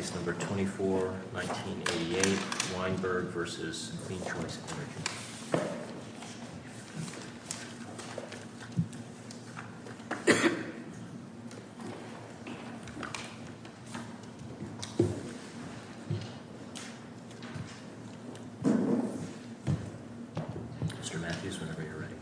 Mr. Matthews, whenever you're ready.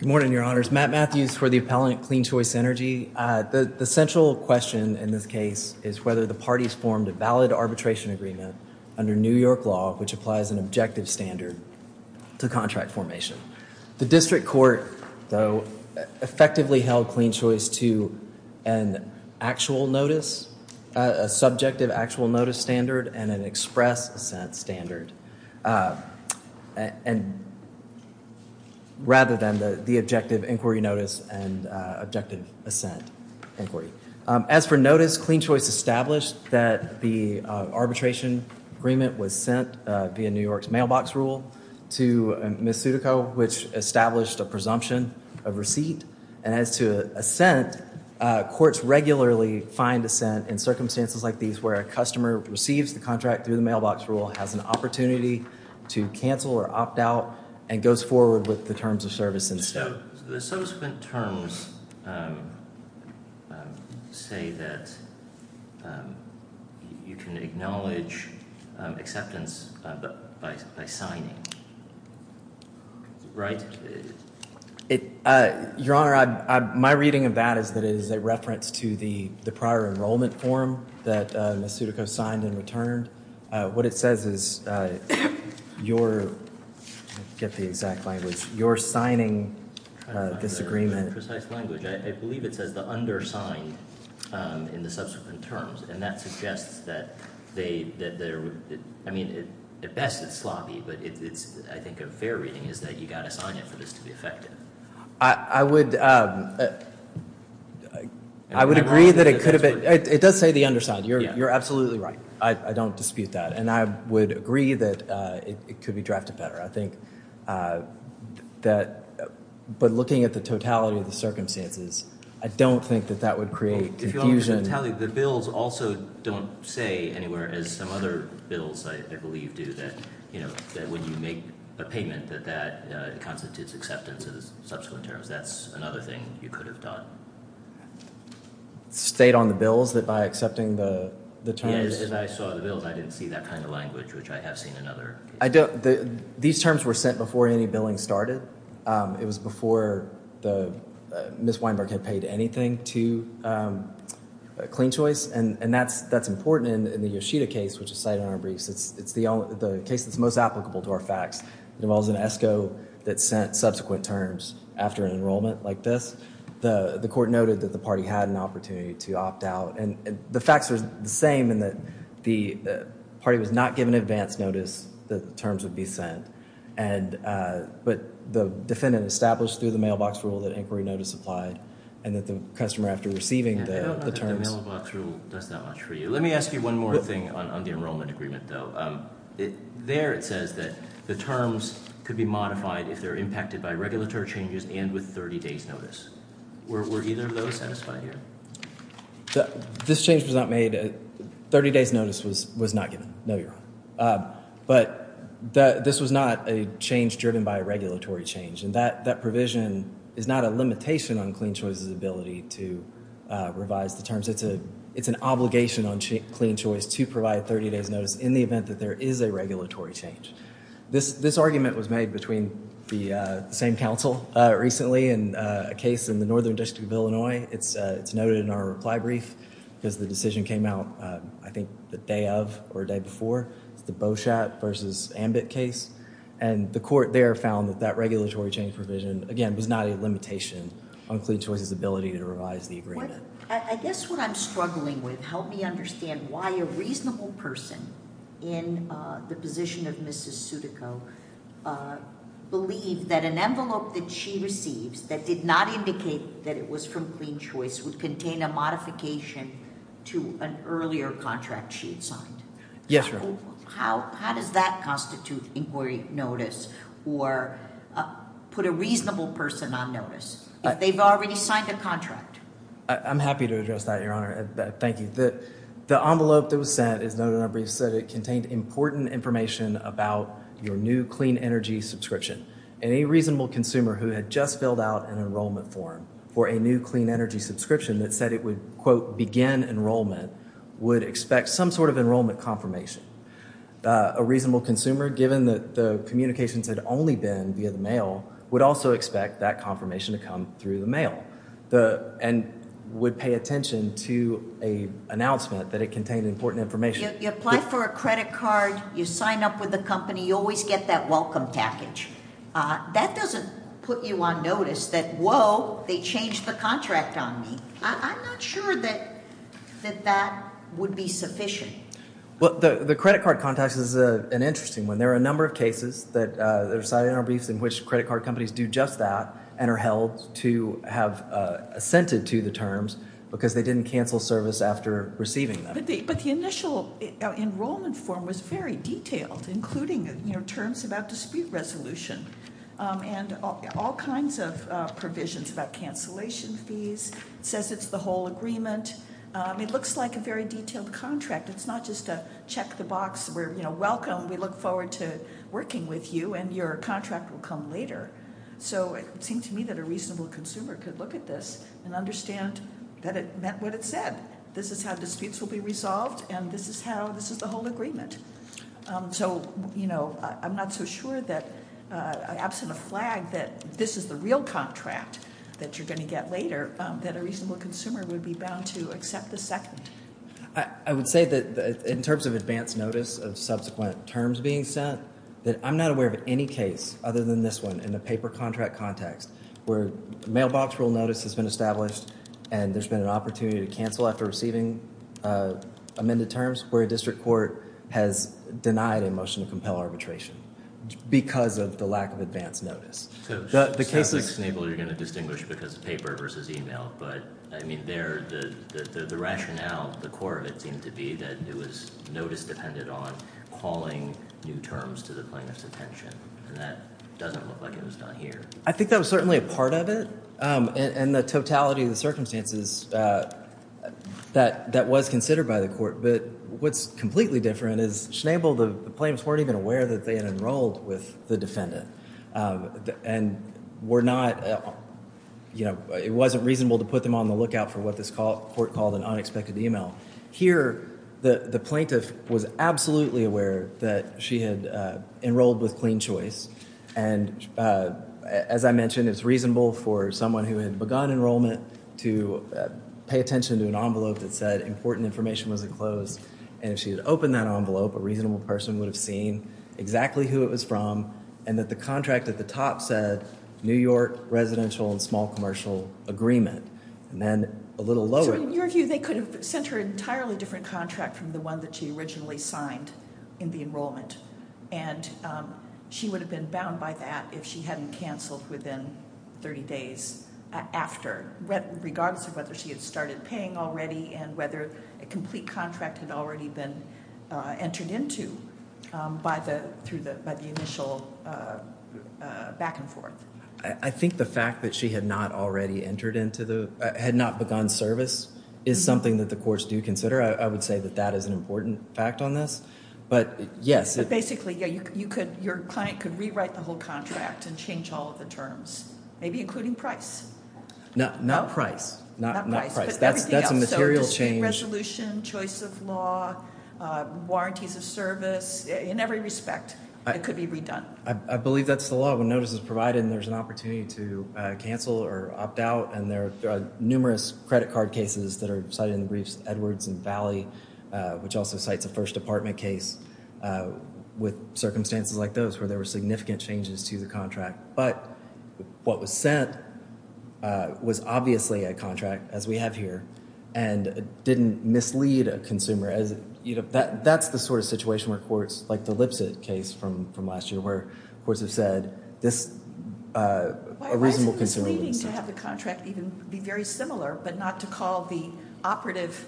Good morning, Your Honors. Matt Matthews for the appellant CleanChoice Energy. The central question in this case is whether the parties formed a valid arbitration agreement under New York law which applies an objective standard to contract formation. The district court, though, effectively held CleanChoice to an actual notice, a subjective actual notice standard and an express assent standard. And rather than the objective inquiry notice and objective assent inquiry. As for notice, CleanChoice established that the arbitration agreement was sent via New York's mailbox rule to Misutico, which established a presumption of receipt. And as to assent, courts regularly find assent in circumstances like these where a customer receives the contract through the mailbox rule, has an opportunity to cancel or opt out and goes forward with the terms of service. And so the subsequent terms say that you can acknowledge acceptance by signing. Right. Your Honor, my reading of that is that it is a reference to the prior enrollment form that Misutico signed and returned. What it says is your get the exact language you're signing this agreement. I believe it says the undersigned in the subsequent terms. And that suggests that they I mean, at best it's sloppy, but it's I think a fair reading is that you got to sign it for this to be effective. I would I would agree that it could have it does say the underside. You're absolutely right. I don't dispute that. And I would agree that it could be drafted better. I think that but looking at the totality of the circumstances, I don't think that that would create confusion. The bills also don't say anywhere as some other bills I believe do that. You know that when you make a payment that that constitutes acceptance of the subsequent terms. That's another thing you could have done. State on the bills that by accepting the terms and I saw the bills, I didn't see that kind of language, which I have seen another. I don't. These terms were sent before any billing started. It was before the Ms. Weinberg had paid anything to Clean Choice. And that's that's important in the Yoshida case, which is cited in our briefs. It's the case that's most applicable to our facts. It involves an ESCO that sent subsequent terms after an enrollment like this. The court noted that the party had an opportunity to opt out. And the facts are the same in that the party was not given advance notice that the terms would be sent. And but the defendant established through the mailbox rule that inquiry notice applied and that the customer after receiving the terms. The mailbox rule does that much for you. Let me ask you one more thing on the enrollment agreement, though. There it says that the terms could be modified if they're impacted by regulatory changes and with 30 days notice. Were either of those satisfied here? This change was not made. 30 days notice was was not given. No, you're right. But this was not a change driven by a regulatory change. And that that provision is not a limitation on Clean Choice's ability to revise the terms. It's a it's an obligation on Clean Choice to provide 30 days notice in the event that there is a regulatory change. This this argument was made between the same council recently in a case in the northern district of Illinois. It's it's noted in our reply brief because the decision came out, I think, the day of or day before the Beauchat versus Ambit case. And the court there found that that regulatory change provision, again, was not a limitation on Clean Choice's ability to revise the agreement. I guess what I'm struggling with helped me understand why a reasonable person in the position of Mrs. Sudico believe that an envelope that she receives that did not indicate that it was from Clean Choice would contain a modification to an earlier contract she had signed. Yes. How how does that constitute inquiry notice or put a reasonable person on notice? They've already signed the contract. I'm happy to address that, Your Honor. Thank you. The envelope that was sent is noted in our briefs that it contained important information about your new clean energy subscription. Any reasonable consumer who had just filled out an enrollment form for a new clean energy subscription that said it would, quote, begin enrollment would expect some sort of enrollment confirmation. A reasonable consumer, given that the communications had only been via the mail, would also expect that confirmation to come through the mail and would pay attention to a announcement that it contained important information. You apply for a credit card, you sign up with the company, you always get that welcome package. That doesn't put you on notice that, whoa, they changed the contract on me. I'm not sure that that would be sufficient. Well, the credit card contact is an interesting one. There are a number of cases that are cited in our briefs in which credit card companies do just that and are held to have assented to the terms because they didn't cancel service after receiving them. But the initial enrollment form was very detailed, including terms about dispute resolution and all kinds of provisions about cancellation fees, says it's the whole agreement. It looks like a very detailed contract. It's not just a check the box, we're welcome, we look forward to working with you, and your contract will come later. So it seemed to me that a reasonable consumer could look at this and understand that it meant what it said. This is how disputes will be resolved, and this is how this is the whole agreement. So I'm not so sure that absent a flag that this is the real contract that you're going to get later, that a reasonable consumer would be bound to accept the second. I would say that in terms of advance notice of subsequent terms being sent, that I'm not aware of any case other than this one in the paper contract context, mailbox rule notice has been established, and there's been an opportunity to cancel after receiving amended terms where a district court has denied a motion to compel arbitration because of the lack of advance notice. The case is stable. You're going to distinguish because of paper versus email. But I mean, there the rationale, the core of it seemed to be that it was notice depended on calling new terms to the plaintiff's attention. And that doesn't look like it was done here. I think that was certainly a part of it, and the totality of the circumstances that was considered by the court. But what's completely different is Schnabel, the plaintiffs weren't even aware that they had enrolled with the defendant. And we're not, you know, it wasn't reasonable to put them on the lookout for what this court called an unexpected email. Here, the plaintiff was absolutely aware that she had enrolled with Clean Choice. And as I mentioned, it's reasonable for someone who had begun enrollment to pay attention to an envelope that said important information was enclosed. And if she had opened that envelope, a reasonable person would have seen exactly who it was from and that the contract at the top said New York residential and small commercial agreement. And then a little lower. So in your view, they could have sent her an entirely different contract from the one that she originally signed in the enrollment. And she would have been bound by that if she hadn't canceled within 30 days after, regardless of whether she had started paying already and whether a complete contract had already been entered into by the initial back and forth. I think the fact that she had not already entered into the, had not begun service is something that the courts do consider. I would say that that is an important fact on this. But yes. But basically, yeah, you could, your client could rewrite the whole contract and change all of the terms, maybe including price. No, not price. Not price. But everything else. That's a material change. So dispute resolution, choice of law, warranties of service, in every respect, it could be redone. I believe that's the law when notice is provided and there's an opportunity to cancel or opt out. And there are numerous credit card cases that are cited in the briefs, Edwards and Valley, which also cites a first department case with circumstances like those where there were significant changes to the contract. But what was sent was obviously a contract, as we have here, and didn't mislead a consumer. That's the sort of situation where courts, like the Lipset case from last year, where courts have said this, a reasonable consumer. Why is it misleading to have the contract even be very similar, but not to call the operative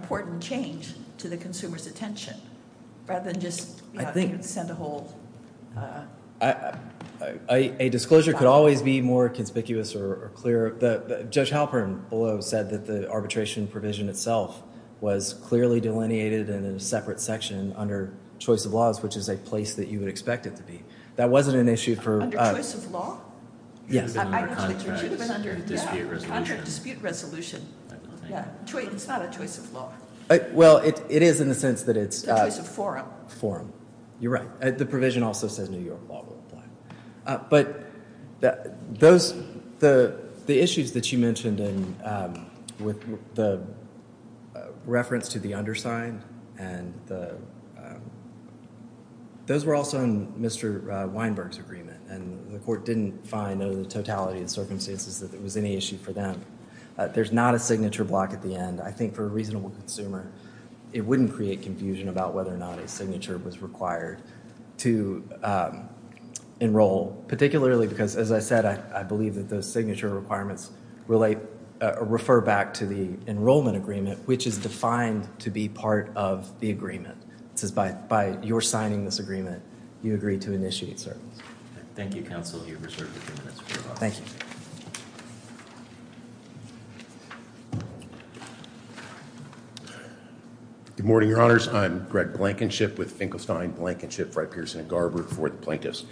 important change to the consumer's attention, rather than just send a whole? A disclosure could always be more conspicuous or clearer. Judge Halpern below said that the arbitration provision itself was clearly delineated in a separate section under choice of laws, which is a place that you would expect it to be. That wasn't an issue for- Under choice of law? Yes. It should have been under dispute resolution. Under dispute resolution. It's not a choice of law. Well, it is in the sense that it's- A choice of forum. Forum. You're right. The provision also says New York law will apply. But the issues that you mentioned with the reference to the underside, those were also in Mr. Weinberg's agreement, and the court didn't find under the totality of circumstances that it was any issue for them. There's not a signature block at the end. I think for a reasonable consumer, it wouldn't create confusion about whether or not a signature was required to enroll, particularly because, as I said, I believe that those signature requirements refer back to the enrollment agreement, which is defined to be part of the agreement. It says by your signing this agreement, you agree to initiate certain- Thank you, counsel. You have reserved a few minutes. Thank you. Good morning, Your Honors. I'm Greg Blankenship with Finkelstein, Blankenship, Frey, Pearson, and Garber for the plaintiffs.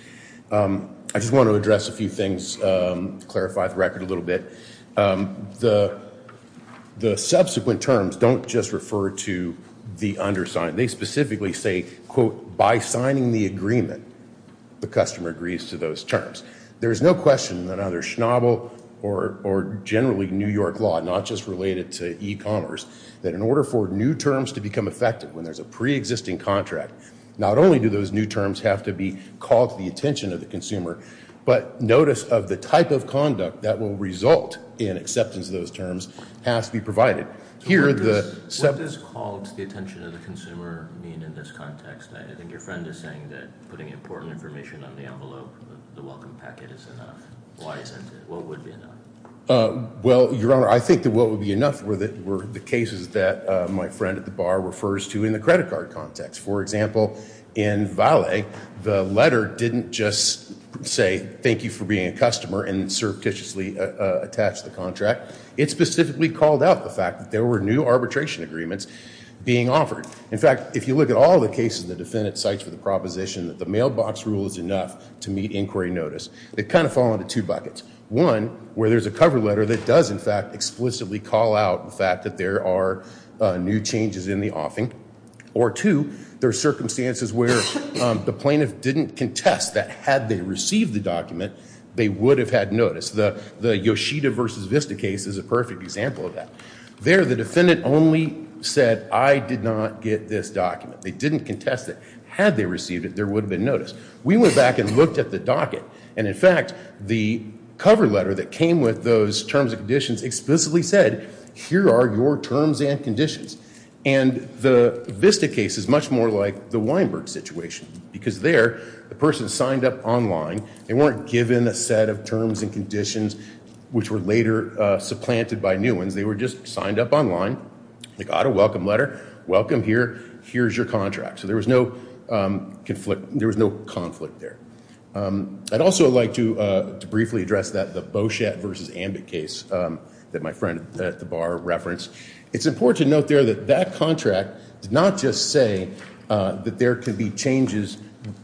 I just want to address a few things to clarify the record a little bit. The subsequent terms don't just refer to the underside. They specifically say, quote, by signing the agreement, the customer agrees to those terms. There is no question that either Schnabel or generally New York law, not just related to e-commerce, that in order for new terms to become effective when there's a preexisting contract, not only do those new terms have to be called to the attention of the consumer, but notice of the type of conduct that will result in acceptance of those terms has to be provided. What does called to the attention of the consumer mean in this context? I think your friend is saying that putting important information on the envelope of the welcome packet is enough. Why isn't it? What would be enough? Well, Your Honor, I think that what would be enough were the cases that my friend at the bar refers to in the credit card context. For example, in Vale, the letter didn't just say thank you for being a customer and surreptitiously attach the contract. It specifically called out the fact that there were new arbitration agreements being offered. In fact, if you look at all the cases the defendant cites for the proposition that the mailbox rule is enough to meet inquiry notice, they kind of fall into two buckets. One, where there's a cover letter that does in fact explicitly call out the fact that there are new changes in the offing. Or two, there are circumstances where the plaintiff didn't contest that had they received the document, they would have had notice. The Yoshida versus Vista case is a perfect example of that. There, the defendant only said I did not get this document. They didn't contest it. Had they received it, there would have been notice. We went back and looked at the docket. And in fact, the cover letter that came with those terms and conditions explicitly said here are your terms and conditions. And the Vista case is much more like the Weinberg situation. Because there, the person signed up online. They weren't given a set of terms and conditions which were later supplanted by new ones. They were just signed up online. They got a welcome letter. Welcome here. Here's your contract. So there was no conflict there. I'd also like to briefly address that, the Beauchette versus Ambit case that my friend at the bar referenced. It's important to note there that that contract did not just say that there could be changes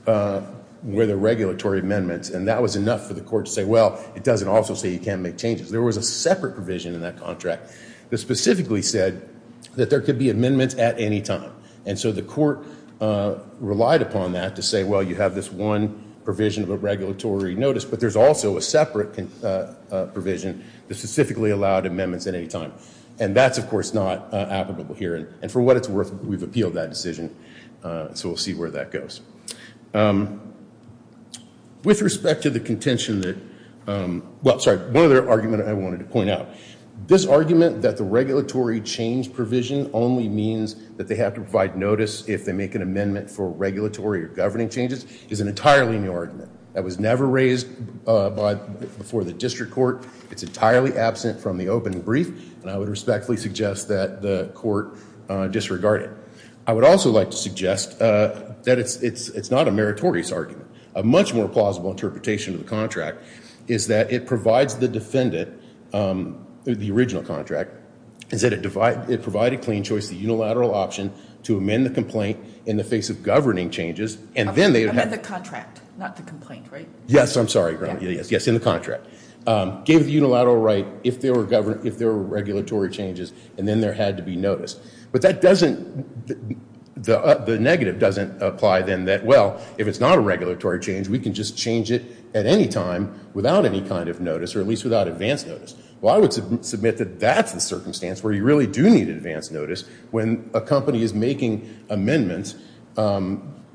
with a regulatory amendment. And that was enough for the court to say, well, it doesn't also say you can't make changes. There was a separate provision in that contract that specifically said that there could be amendments at any time. And so the court relied upon that to say, well, you have this one provision of a regulatory notice, but there's also a separate provision that specifically allowed amendments at any time. And that's, of course, not applicable here. And for what it's worth, we've appealed that decision. So we'll see where that goes. With respect to the contention that, well, sorry, one other argument I wanted to point out. This argument that the regulatory change provision only means that they have to provide notice if they make an amendment for regulatory or governing changes is an entirely new argument. That was never raised before the district court. It's entirely absent from the open brief. And I would respectfully suggest that the court disregard it. I would also like to suggest that it's not a meritorious argument. A much more plausible interpretation of the contract is that it provides the defendant, the original contract, is that it provided clean choice, the unilateral option, to amend the complaint in the face of governing changes. Amend the contract, not the complaint, right? Yes, I'm sorry. Yes, in the contract. Gave the unilateral right if there were regulatory changes, and then there had to be notice. But that doesn't, the negative doesn't apply then that, well, if it's not a regulatory change, we can just change it at any time without any kind of notice, or at least without advance notice. Well, I would submit that that's the circumstance where you really do need advance notice when a company is making amendments,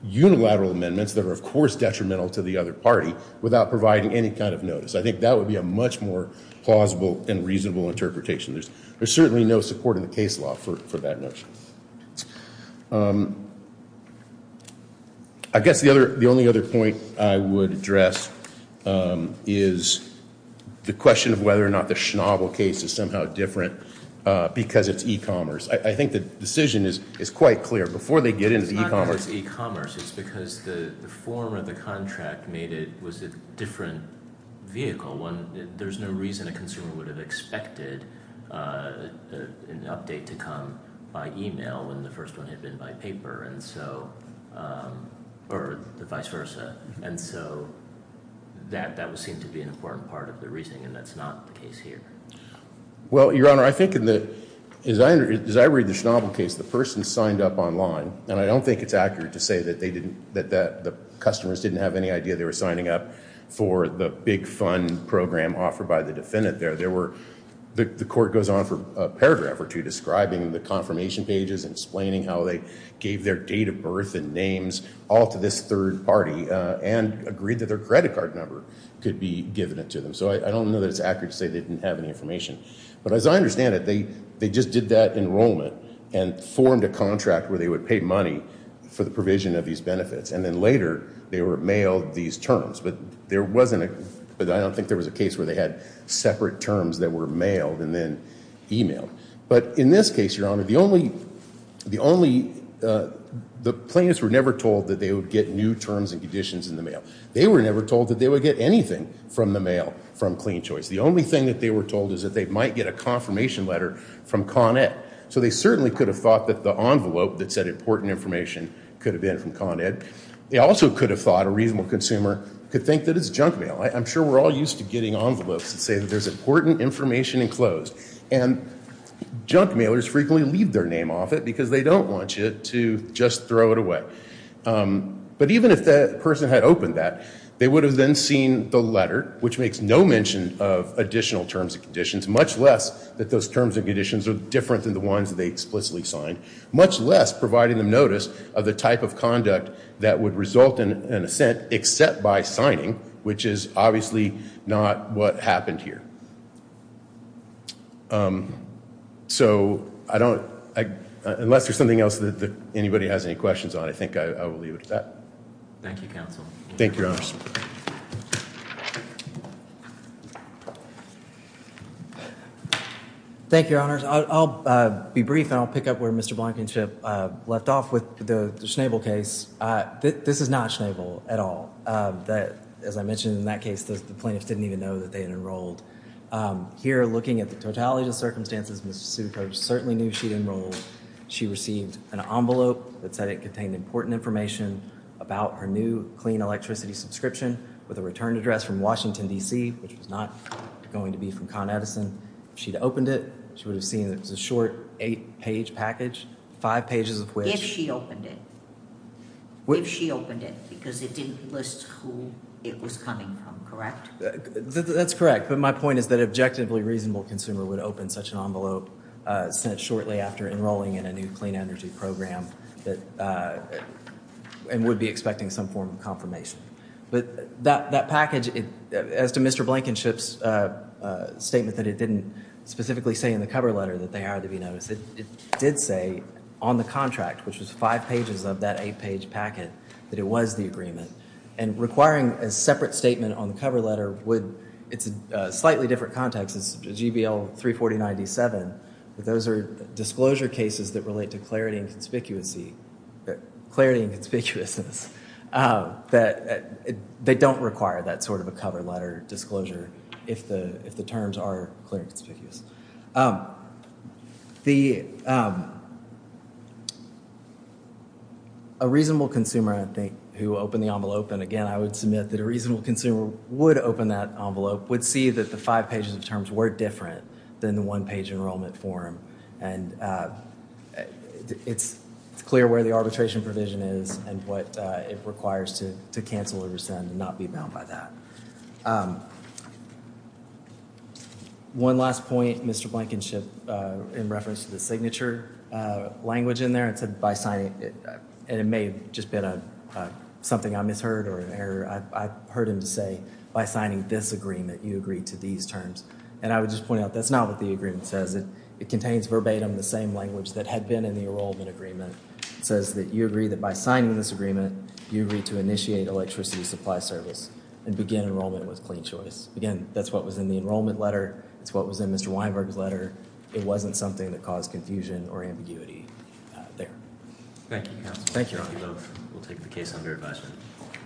unilateral amendments, that are, of course, detrimental to the other party, without providing any kind of notice. I think that would be a much more plausible and reasonable interpretation. There's certainly no support in the case law for that notion. I guess the only other point I would address is the question of whether or not the Schnabel case is somehow different because it's e-commerce. I think the decision is quite clear. Before they get into e-commerce. It's not because it's e-commerce. It's because the form of the contract made it, was a different vehicle. There's no reason a consumer would have expected an update to come by e-mail when the first one had been by paper, and so, or vice versa. And so that would seem to be an important part of the reasoning, and that's not the case here. Well, Your Honor, I think in the, as I read the Schnabel case, the person signed up online, and I don't think it's accurate to say that they didn't, that the customers didn't have any idea they were signing up for the big fund program offered by the defendant there. There were, the court goes on for a paragraph or two describing the confirmation pages, and explaining how they gave their date of birth and names all to this third party, and agreed that their credit card number could be given to them. So I don't know that it's accurate to say they didn't have any information. But as I understand it, they just did that enrollment and formed a contract where they would pay money for the provision of these benefits. And then later, they were mailed these terms. But there wasn't a, I don't think there was a case where they had separate terms that were mailed and then e-mailed. But in this case, Your Honor, the only, the plaintiffs were never told that they would get new terms and conditions in the mail. They were never told that they would get anything from the mail from Clean Choice. The only thing that they were told is that they might get a confirmation letter from Con Ed. So they certainly could have thought that the envelope that said important information could have been from Con Ed. They also could have thought, a reasonable consumer could think that it's junk mail. I'm sure we're all used to getting envelopes that say that there's important information enclosed. And junk mailers frequently leave their name off it because they don't want you to just throw it away. But even if the person had opened that, they would have then seen the letter, which makes no mention of additional terms and conditions, much less that those terms and conditions are different than the ones that they explicitly signed, much less providing them notice of the type of conduct that would result in an assent except by signing, which is obviously not what happened here. So I don't, unless there's something else that anybody has any questions on, I think I will leave it at that. Thank you, Counsel. Thank you, Your Honors. Thank you, Your Honors. I'll be brief and I'll pick up where Mr. Blankenship left off with the Schnabel case. This is not Schnabel at all. As I mentioned in that case, the plaintiffs didn't even know that they had enrolled. Here, looking at the totality of the circumstances, Ms. Zucco certainly knew she'd enrolled. She received an envelope that said it contained important information about her new clean electricity subscription with a return address from Washington, D.C., which was not going to be from Con Edison. If she'd opened it, she would have seen it was a short eight-page package, five pages of which— If she opened it, because it didn't list who it was coming from, correct? That's correct, but my point is that an objectively reasonable consumer would open such an envelope sent shortly after enrolling in a new clean energy program and would be expecting some form of confirmation. But that package, as to Mr. Blankenship's statement that it didn't specifically say in the cover letter that they are to be noticed, it did say on the contract, which was five pages of that eight-page packet, that it was the agreement. And requiring a separate statement on the cover letter would—it's a slightly different context. It's GBL 34097, but those are disclosure cases that relate to clarity and conspicuousness. They don't require that sort of a cover letter disclosure if the terms are clear and conspicuous. A reasonable consumer, I think, who opened the envelope—and again, I would submit that a reasonable consumer would open that envelope— would see that the five pages of terms were different than the one-page enrollment form. And it's clear where the arbitration provision is and what it requires to cancel or rescind and not be bound by that. One last point, Mr. Blankenship, in reference to the signature language in there. It said by signing—and it may have just been something I misheard or an error. I heard him say, by signing this agreement, you agree to these terms. And I would just point out that's not what the agreement says. It contains verbatim the same language that had been in the enrollment agreement. It says that you agree that by signing this agreement, you agree to initiate electricity supply service and begin enrollment with clean choice. Again, that's what was in the enrollment letter. That's what was in Mr. Weinberg's letter. It wasn't something that caused confusion or ambiguity there. Thank you, counsel. Thank you. We'll take the case under advisement.